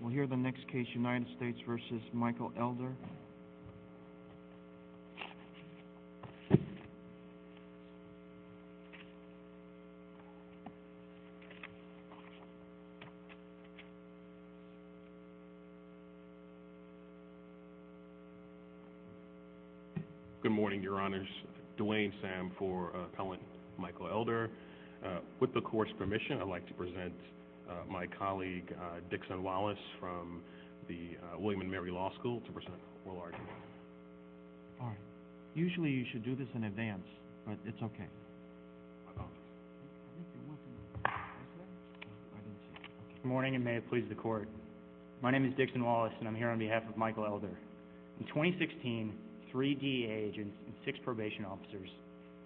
We'll hear the next case, United States v. Michael Elder. Good morning, Your Honors. Dwayne Sam for Appellant Michael Elder. With the Court's permission, I'd like to present my colleague, Dixon Wallace, from the William and Mary Law School to present oral arguments. Usually you should do this in advance, but it's okay. Good morning, and may it please the Court. My name is Dixon Wallace, and I'm here on behalf of Michael Elder. In 2016, three DEA agents and six probation officers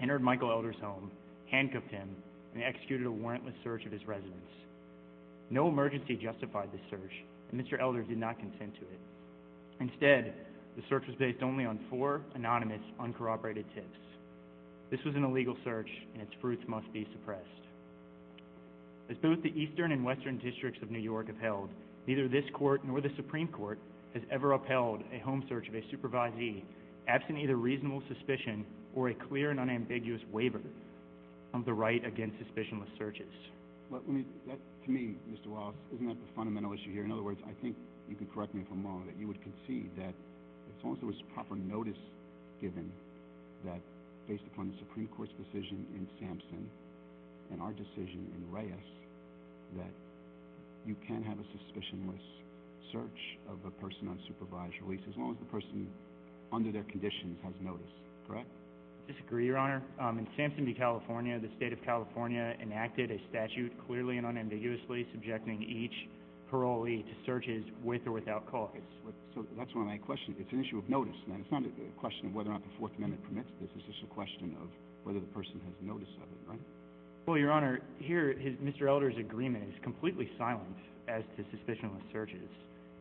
entered Michael Elder's home, handcuffed him, and executed a warrantless search of his residence. No emergency justified this search, and Mr. Elder did not contend to it. Instead, the search was based only on four anonymous, uncorroborated tips. This was an illegal search, and its fruits must be suppressed. As both the Eastern and Western districts of New York have held, neither this Court nor the Supreme Court has ever upheld a home search of a supervisee absent either reasonable suspicion or a clear and unambiguous waiver of the right against suspicionless searches. To me, Mr. Wallace, isn't that the fundamental issue here? In other words, I think you can correct me if I'm wrong, that you would concede that as long as there was proper notice given that, based upon the Supreme Court's decision in Sampson, and our decision in Reyes, that you can have a suspicionless search of a person on supervised release as long as the person, under their conditions, has notice, correct? I disagree, Your Honor. In Sampson v. California, the State of California enacted a statute clearly and unambiguously subjecting each parolee to searches with or without cause. So that's one of my questions. It's an issue of notice. Now, it's not a question of whether or not the Fourth Amendment permits this. It's just a question of whether the person has notice of it, right? Well, Your Honor, here, Mr. Elder's agreement is completely silent as to suspicionless searches.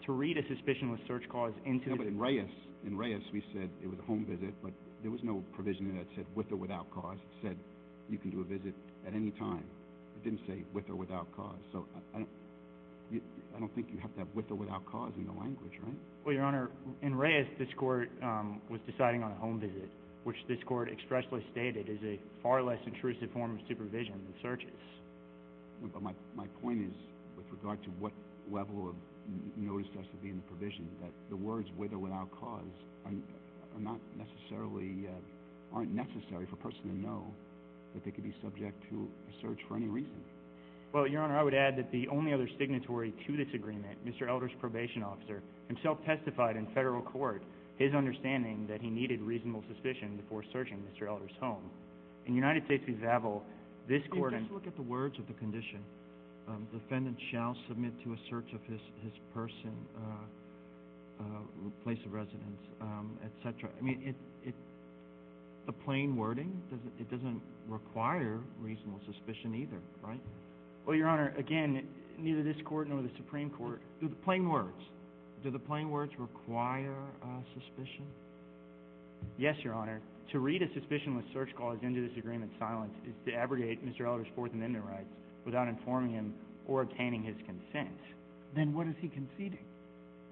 To read a suspicionless search clause into the— No, but in Reyes, we said it was a home visit, but there was no provision in it that said with or without cause. It said you can do a visit at any time. It didn't say with or without cause. So I don't think you have that with or without cause in the language, right? Well, Your Honor, in Reyes, this Court was deciding on a home visit, which this Court expressly stated is a far less intrusive form of supervision than searches. My point is, with regard to what level of notice has to be in the provision, that the words with or without cause are not necessarily—aren't necessary for a person to know that they could be subject to a search for any reason. Well, Your Honor, I would add that the only other signatory to this agreement, Mr. Elder's probation officer, himself testified in federal court his understanding that he needed reasonable suspicion before searching Mr. Elder's home. In United States v. Vaville, this Court— Just look at the words of the condition. Defendant shall submit to a search of his person, place of residence, etc. The plain wording, it doesn't require reasonable suspicion either, right? Well, Your Honor, again, neither this Court nor the Supreme Court— Do the plain words—do the plain words require suspicion? Yes, Your Honor. To read a suspicionless search clause into this agreement in silence is to abrogate Mr. Elder's fourth amendment rights without informing him or obtaining his consent. Then what is he conceding?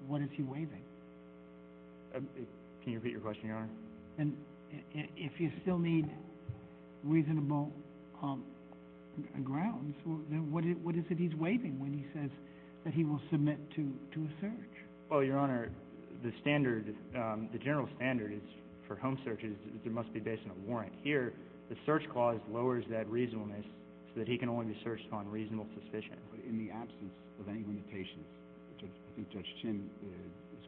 What is he waiving? Can you repeat your question, Your Honor? And if you still need reasonable grounds, what is it he's waiving when he says that he will submit to a search? Well, Your Honor, the standard—the general standard for home searches is that they must be based on a warrant. Here, the search clause lowers that reasonableness so that he can only be searched on reasonable suspicion. But in the absence of any limitations, I think Judge Chinn's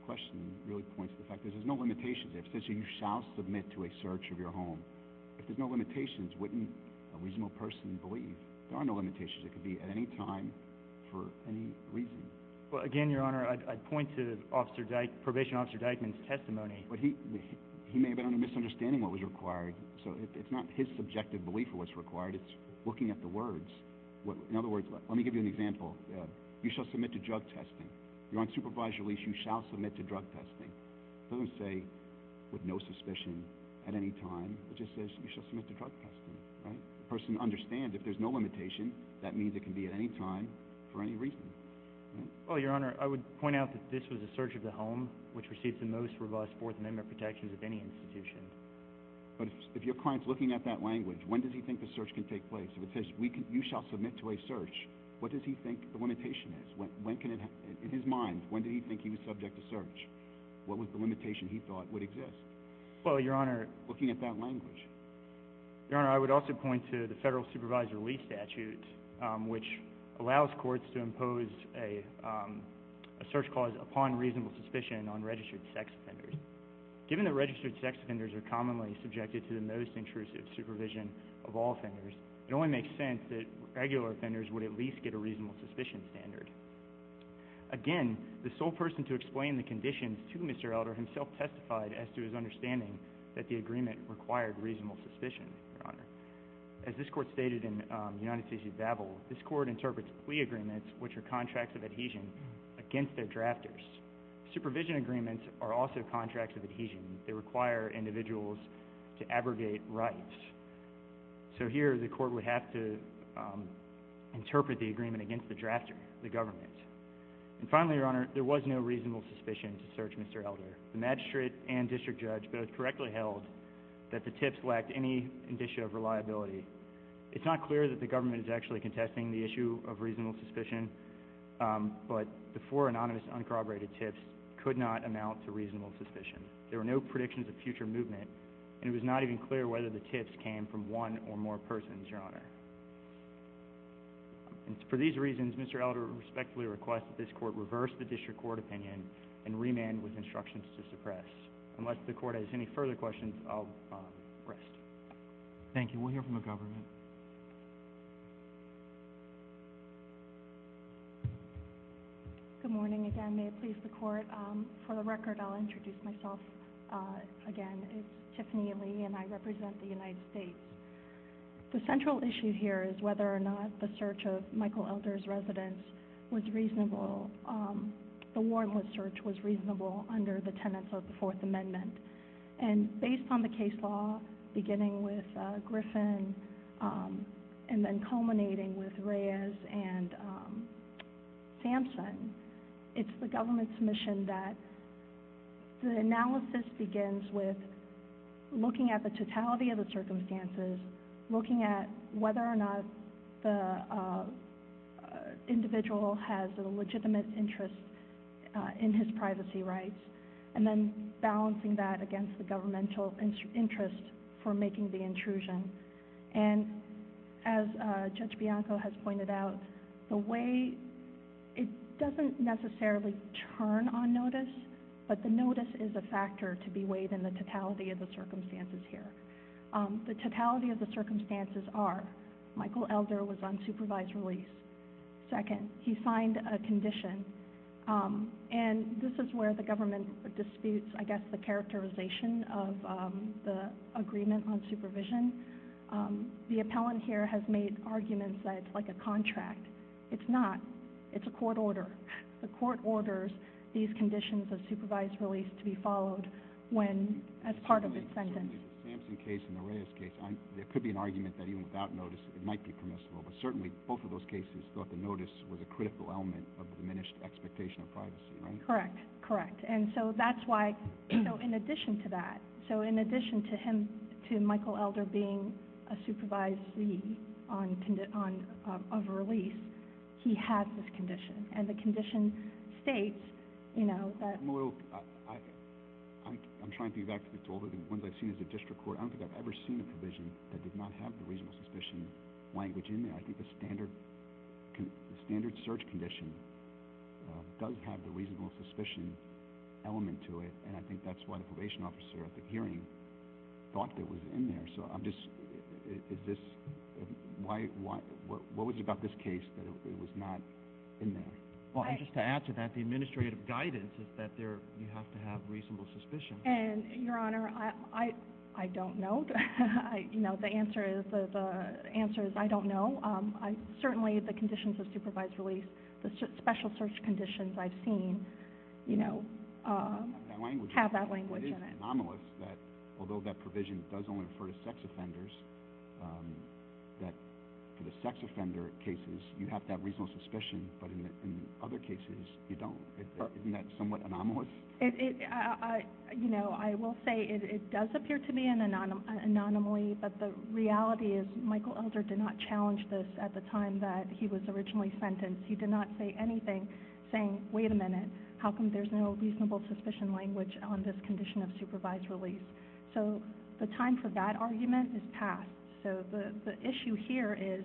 question really points to the fact that there's no limitations. It says here, you shall submit to a search of your home. If there's no limitations, wouldn't a reasonable person believe? There are no limitations. It could be at any time for any reason. Well, again, Your Honor, I'd point to Probation Officer Dykeman's testimony. But he may have been under misunderstanding what was required. So it's not his subjective belief of what's required. It's looking at the words. In other words, let me give you an example. You shall submit to drug testing. You're on supervised release. You shall submit to drug testing. It doesn't say with no suspicion at any time. It just says you shall submit to drug testing, right? The person understands if there's no limitation, that means it can be at any time for any reason. Well, Your Honor, I would point out that this was a search of the home, which receives the most robust Fourth Amendment protections of any institution. But if your client's looking at that language, when does he think the search can take place? If it says you shall submit to a search, what does he think the limitation is? In his mind, when did he think he was subject to search? What was the limitation he thought would exist? Well, Your Honor. Looking at that language. Your Honor, I would also point to the federal supervised release statute, which allows courts to impose a search clause upon reasonable suspicion on registered sex offenders. Given that registered sex offenders are commonly subjected to the most intrusive supervision of all offenders, it only makes sense that regular offenders would at least get a reasonable suspicion standard. Again, the sole person to explain the conditions to Mr. Elder himself testified as to his understanding that the agreement required reasonable suspicion, Your Honor. As this court stated in United States v. Babel, this court interprets plea agreements, which are contracts of adhesion, against their drafters. Supervision agreements are also contracts of adhesion. They require individuals to abrogate rights. So here the court would have to interpret the agreement against the drafter, the government. And finally, Your Honor, there was no reasonable suspicion to search Mr. Elder. The magistrate and district judge both correctly held that the tips lacked any indicia of reliability. It's not clear that the government is actually contesting the issue of reasonable suspicion, but the four anonymous uncorroborated tips could not amount to reasonable suspicion. There were no predictions of future movement, and it was not even clear whether the tips came from one or more persons, Your Honor. For these reasons, Mr. Elder respectfully requests that this court reverse the district court opinion and remand with instructions to suppress. Unless the court has any further questions, I'll rest. Thank you. We'll hear from the government. Good morning again. May it please the court. For the record, I'll introduce myself again. It's Tiffany Lee, and I represent the United States. The central issue here is whether or not the search of Michael Elder's residence was reasonable. The Warnwood search was reasonable under the tenets of the Fourth Amendment. And based on the case law, beginning with Griffin and then culminating with Reyes and Sampson, it's the government's mission that the analysis begins with looking at the totality of the circumstances, looking at whether or not the individual has a legitimate interest in his privacy rights, and then balancing that against the governmental interest for making the intrusion. And as Judge Bianco has pointed out, it doesn't necessarily turn on notice, but the notice is a factor to be weighed in the totality of the circumstances here. The totality of the circumstances are Michael Elder was on supervised release. Second, he signed a condition. And this is where the government disputes, I guess, the characterization of the agreement on supervision. The appellant here has made arguments that it's like a contract. It's not. It's a court order. The court orders these conditions of supervised release to be followed as part of its sentence. In the Sampson case and the Reyes case, there could be an argument that even without notice it might be permissible, but certainly both of those cases thought the notice was a critical element of the diminished expectation of privacy, right? Correct. Correct. And so that's why, you know, in addition to that, so in addition to him, to Michael Elder being a supervisee of a release, he has this condition. And the condition states, you know, that— I'm a little—I'm trying to get back to the ones I've seen as a district court. I don't think I've ever seen a provision that did not have the reasonable suspicion language in there. I think the standard search condition does have the reasonable suspicion element to it, and I think that's why the probation officer at the hearing thought that it was in there. So I'm just—is this—why—what was it about this case that it was not in there? Well, just to add to that, the administrative guidance is that you have to have reasonable suspicion. And, Your Honor, I don't know. You know, the answer is I don't know. Certainly the conditions of supervised release, the special search conditions I've seen, you know, have that language in it. It is anomalous that although that provision does only refer to sex offenders, that for the sex offender cases you have to have reasonable suspicion, but in other cases you don't. Isn't that somewhat anomalous? It—you know, I will say it does appear to be an anomaly, but the reality is Michael Elder did not challenge this at the time that he was originally sentenced. He did not say anything saying, wait a minute, how come there's no reasonable suspicion language on this condition of supervised release? So the time for that argument is past. So the issue here is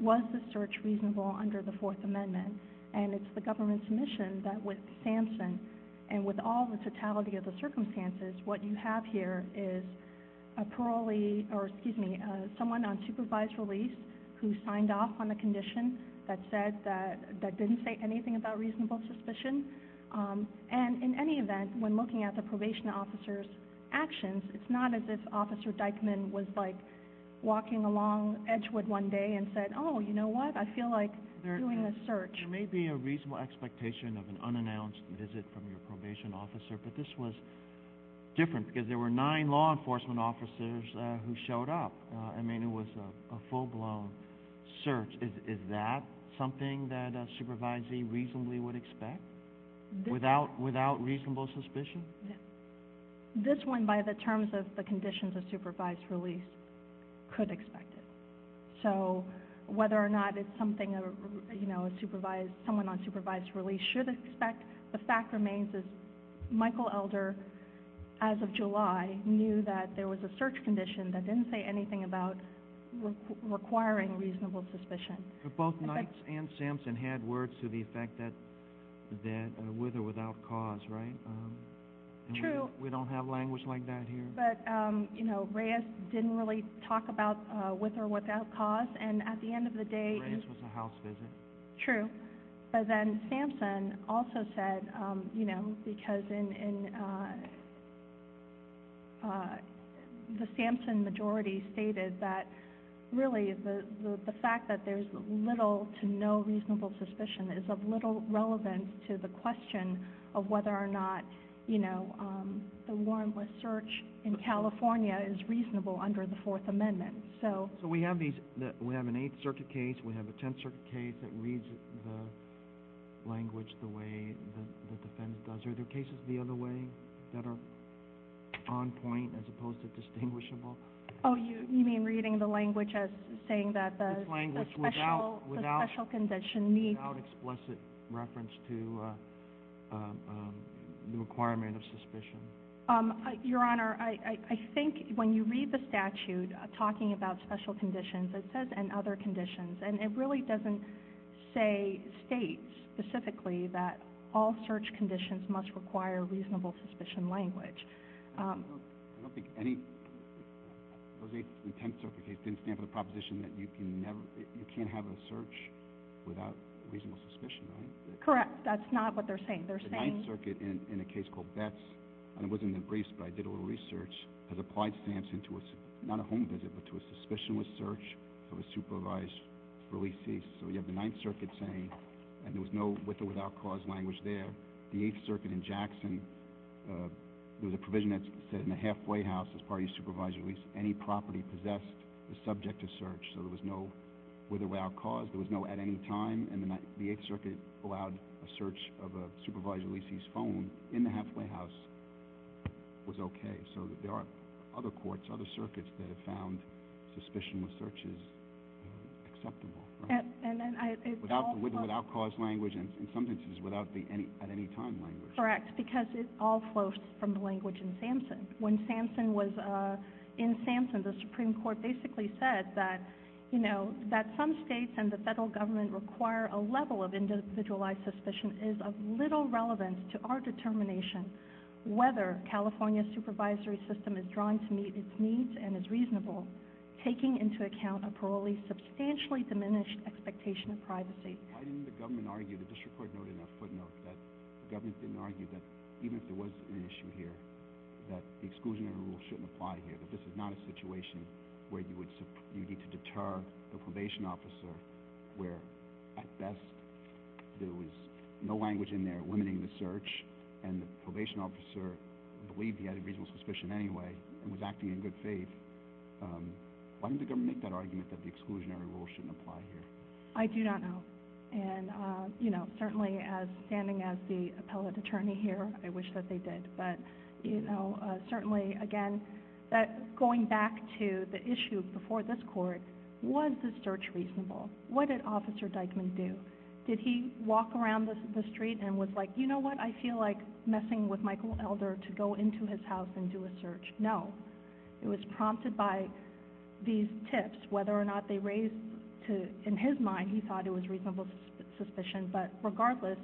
was the search reasonable under the Fourth Amendment? And it's the government's mission that with SAMHSA and with all the totality of the circumstances, what you have here is a parolee or, excuse me, someone on supervised release who signed off on a condition that said that— that didn't say anything about reasonable suspicion. And in any event, when looking at the probation officer's actions, it's not as if Officer Dykeman was, like, walking along Edgewood one day and said, oh, you know what, I feel like doing a search. There may be a reasonable expectation of an unannounced visit from your probation officer, but this was different because there were nine law enforcement officers who showed up. I mean, it was a full-blown search. Is that something that a supervisee reasonably would expect without reasonable suspicion? This one, by the terms of the conditions of supervised release, could expect it. So whether or not it's something a supervised—someone on supervised release should expect, the fact remains is Michael Elder, as of July, knew that there was a search condition that didn't say anything about requiring reasonable suspicion. But both Knights and SAMHSA had words to the effect that with or without cause, right? True. We don't have language like that here. But, you know, Reyes didn't really talk about with or without cause, and at the end of the day— Reyes was a house visit. True. But then SAMHSA also said, you know, because in—the SAMHSA majority stated that, really, the fact that there's little to no reasonable suspicion is of little relevance to the question of whether or not, you know, the warrantless search in California is reasonable under the Fourth Amendment. So we have these—we have an Eighth Circuit case. We have a Tenth Circuit case that reads the language the way the defense does. Are there cases the other way that are on point as opposed to distinguishable? Oh, you mean reading the language as saying that the special condition needs— Your Honor, I think when you read the statute talking about special conditions, it says, and other conditions, and it really doesn't say—states specifically that all search conditions must require reasonable suspicion language. I don't think any—those Eighth and Tenth Circuit cases didn't stand for the proposition that you can never— you can't have a search without reasonable suspicion, right? Correct. That's not what they're saying. The Ninth Circuit, in a case called Betts—and it wasn't in the briefs, but I did a little research— has applied SAMHSA to a—not a home visit, but to a suspicionless search of a supervised releasee. So you have the Ninth Circuit saying, and there was no with or without cause language there. The Eighth Circuit in Jackson, there was a provision that said in the halfway house, as part of your supervised release, any property possessed is subject to search. So there was no with or without cause. There was no at any time. And the Ninth—the Eighth Circuit allowed a search of a supervised releasee's phone in the halfway house was okay. So there are other courts, other circuits that have found suspicionless searches acceptable, right? And I— Without the with or without cause language, and in some instances, without the any—at any time language. When Samson was in Samson, the Supreme Court basically said that, you know, that some states and the federal government require a level of individualized suspicion is of little relevance to our determination whether California's supervisory system is drawn to meet its needs and is reasonable, taking into account a parolee's substantially diminished expectation of privacy. Why didn't the government argue—the district court noted in a footnote that the government didn't argue that even if there was an issue here, that the exclusionary rule shouldn't apply here, that this is not a situation where you would—you need to deter the probation officer where, at best, there was no language in there limiting the search, and the probation officer believed he had a reasonable suspicion anyway and was acting in good faith. Why didn't the government make that argument that the exclusionary rule shouldn't apply here? I do not know. And, you know, certainly as—standing as the appellate attorney here, I wish that they did. But, you know, certainly, again, going back to the issue before this court, was the search reasonable? What did Officer Dyckman do? Did he walk around the street and was like, you know what? I feel like messing with Michael Elder to go into his house and do a search. No. It was prompted by these tips, whether or not they raised to—in his mind, he thought it was reasonable suspicion, but regardless,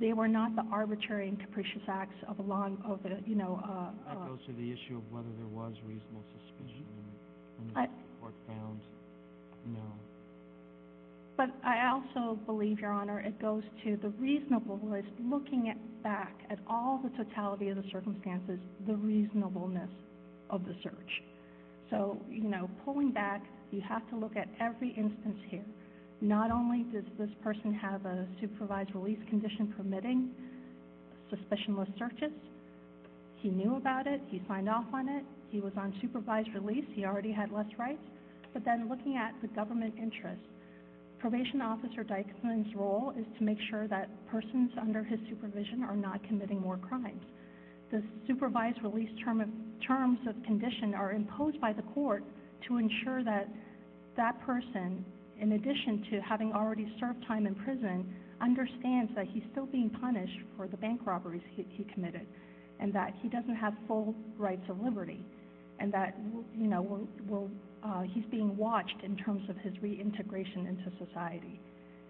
they were not the arbitrary and capricious acts of a law—of the, you know— That goes to the issue of whether there was reasonable suspicion in the court found. But I also believe, Your Honor, it goes to the reasonableness, is looking back at all the totality of the circumstances, the reasonableness of the search. So, you know, pulling back, you have to look at every instance here. Not only does this person have a supervised release condition permitting, suspicionless searches. He knew about it. He signed off on it. He was on supervised release. He already had less rights. But then looking at the government interest, Probation Officer Dycklin's role is to make sure that persons under his supervision are not committing more crimes. The supervised release terms of condition are imposed by the court to ensure that that person, in addition to having already served time in prison, understands that he's still being punished for the bank robberies he committed and that he doesn't have full rights of liberty and that he's being watched in terms of his reintegration into society.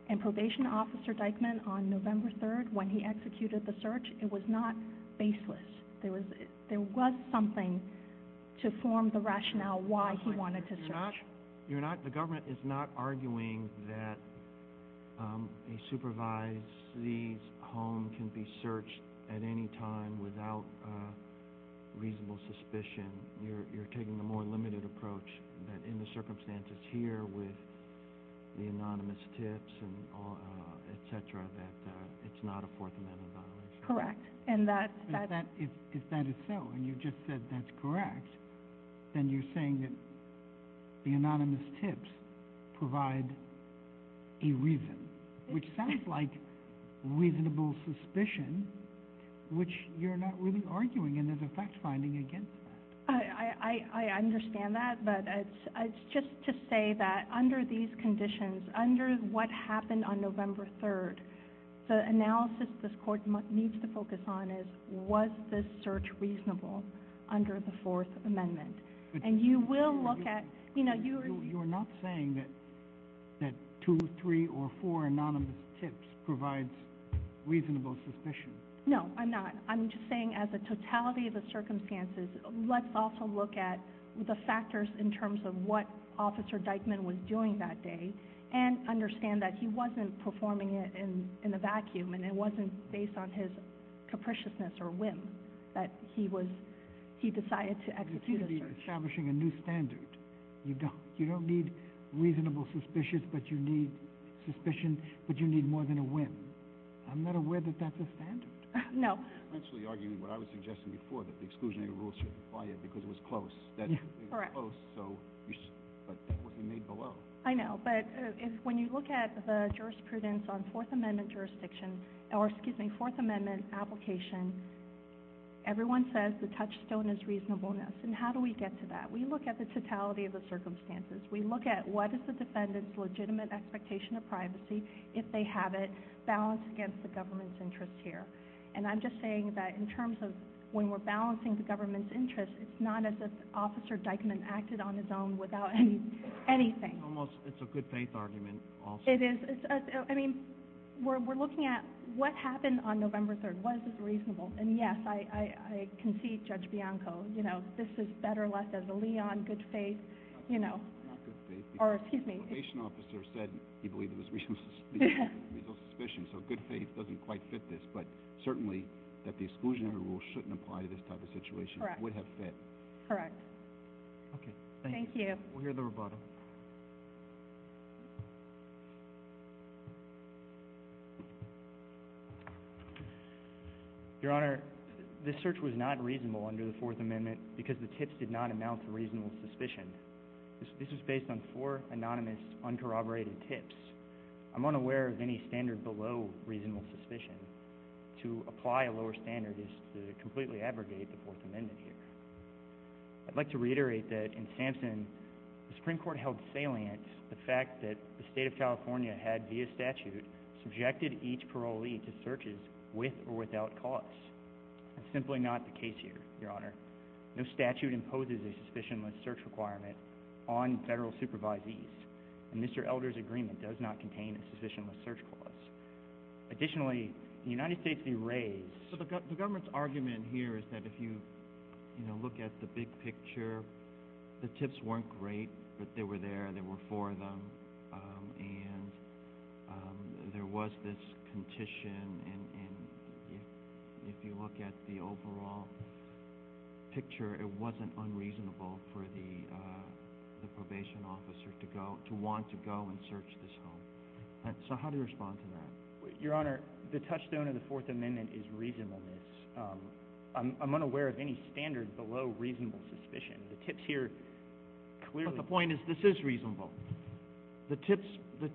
And Probation Officer Dycklin, on November 3rd, when he executed the search, it was not baseless. There was something to form the rationale why he wanted to search. The government is not arguing that a supervised release home can be searched at any time without reasonable suspicion. You're taking the more limited approach that in the circumstances here with the anonymous tips, et cetera, that it's not a Fourth Amendment violation. Correct. If that is so, and you just said that's correct, then you're saying that the anonymous tips provide a reason, which sounds like reasonable suspicion, which you're not really arguing, and there's a fact-finding against that. I understand that, but it's just to say that under these conditions, under what happened on November 3rd, the analysis this Court needs to focus on is was this search reasonable under the Fourth Amendment. And you will look at – You're not saying that two, three, or four anonymous tips provides reasonable suspicion. No, I'm not. I'm just saying as a totality of the circumstances, let's also look at the factors in terms of what Officer Dycklin was doing that day and understand that he wasn't performing it in a vacuum, and it wasn't based on his capriciousness or whim that he decided to execute a search. You seem to be establishing a new standard. You don't need reasonable suspicion, but you need more than a whim. I'm not aware that that's a standard. No. I'm actually arguing what I was suggesting before, that the exclusionary rules should apply it because it was close. Yeah, correct. It was close, but that wasn't made below. I know, but when you look at the jurisprudence on Fourth Amendment application, everyone says the touchstone is reasonableness, and how do we get to that? We look at the totality of the circumstances. We look at what is the defendant's legitimate expectation of privacy, if they have it, balanced against the government's interest here. And I'm just saying that in terms of when we're balancing the government's interest, it's not as if Officer Deichmann acted on his own without anything. It's a good-faith argument also. It is. I mean, we're looking at what happened on November 3rd. Was it reasonable? And, yes, I concede Judge Bianco, you know, this is better left as a liaison, good faith, you know. Good faith because the probation officer said he believed it was reasonable suspicion, so good faith doesn't quite fit this. But certainly that the exclusionary rule shouldn't apply to this type of situation. Correct. It would have fit. Correct. Okay, thank you. Thank you. We'll hear the rebuttal. Your Honor, this search was not reasonable under the Fourth Amendment because the tips did not amount to reasonable suspicion. This was based on four anonymous, uncorroborated tips. I'm unaware of any standard below reasonable suspicion. To apply a lower standard is to completely abrogate the Fourth Amendment here. I'd like to reiterate that in Sampson, the Supreme Court held salient the fact that the State of California had, via statute, subjected each parolee to searches with or without cause. That's simply not the case here, Your Honor. No statute imposes a suspicionless search requirement on federal supervisees, and Mr. Elder's agreement does not contain a suspicionless search clause. Additionally, the United States derays. So the government's argument here is that if you look at the big picture, the tips weren't great, but they were there, there were four of them, and there was this condition, and if you look at the overall picture, it wasn't unreasonable for the probation officer to want to go and search this home. So how do you respond to that? Your Honor, the touchstone of the Fourth Amendment is reasonableness. I'm unaware of any standard below reasonable suspicion. The tips here clearly— But the point is this is reasonable. The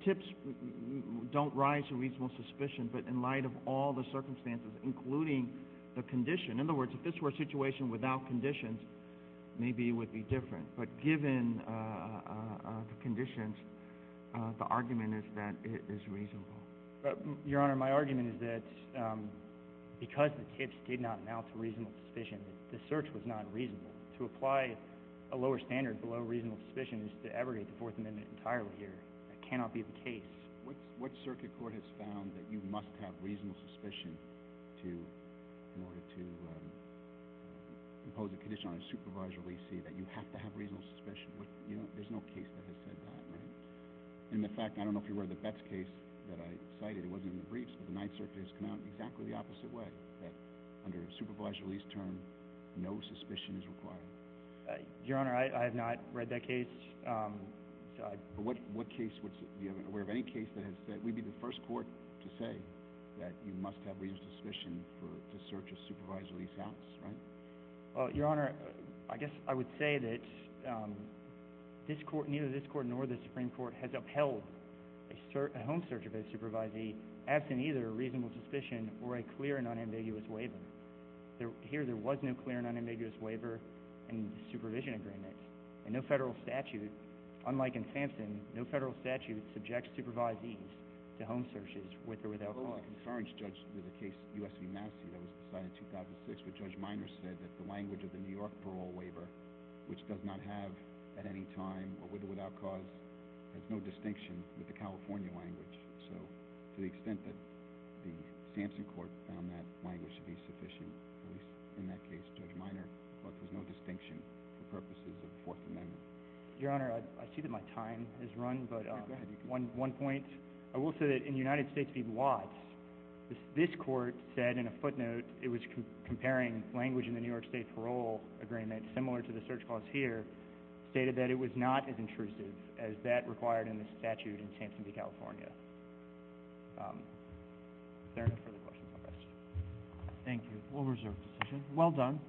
tips don't rise to reasonable suspicion, but in light of all the circumstances, including the condition, in other words, if this were a situation without conditions, maybe it would be different. But given the conditions, the argument is that it is reasonable. Your Honor, my argument is that because the tips did not amount to reasonable suspicion, the search was not reasonable. To apply a lower standard below reasonable suspicion is to abrogate the Fourth Amendment entirely here. That cannot be the case. What circuit court has found that you must have reasonable suspicion in order to impose a condition on a supervised release, see that you have to have reasonable suspicion? There's no case that has said that, right? And the fact—I don't know if you've read the Betz case that I cited. It wasn't in the briefs, but the Ninth Circuit has come out exactly the opposite way, that under a supervised release term, no suspicion is required. Your Honor, I have not read that case. What case would—are you aware of any case that has said— maybe the first court to say that you must have reasonable suspicion to search a supervised release house, right? Your Honor, I guess I would say that neither this court nor the Supreme Court has upheld a home search of a supervisee absent either a reasonable suspicion or a clear and unambiguous waiver. Here, there was no clear and unambiguous waiver and supervision agreement and no federal statute—unlike in Sampson, no federal statute subjects supervisees to home searches with or without cause. Well, I concurrence, Judge, with a case, U.S. v. Massey, that was decided in 2006, where Judge Minor said that the language of the New York parole waiver, which does not have at any time, or with or without cause, has no distinction with the California language. So to the extent that the Sampson court found that language to be sufficient, at least in that case, Judge Minor, there was no distinction for purposes of the Fourth Amendment. Your Honor, I see that my time has run, but one point. I will say that in United States v. Watts, this court said in a footnote it was comparing language in the New York state parole agreement, similar to the search clause here, stated that it was not as intrusive as that required in the statute in Sampson v. California. Is there any further questions on this? Thank you. We'll reserve the session. Well done.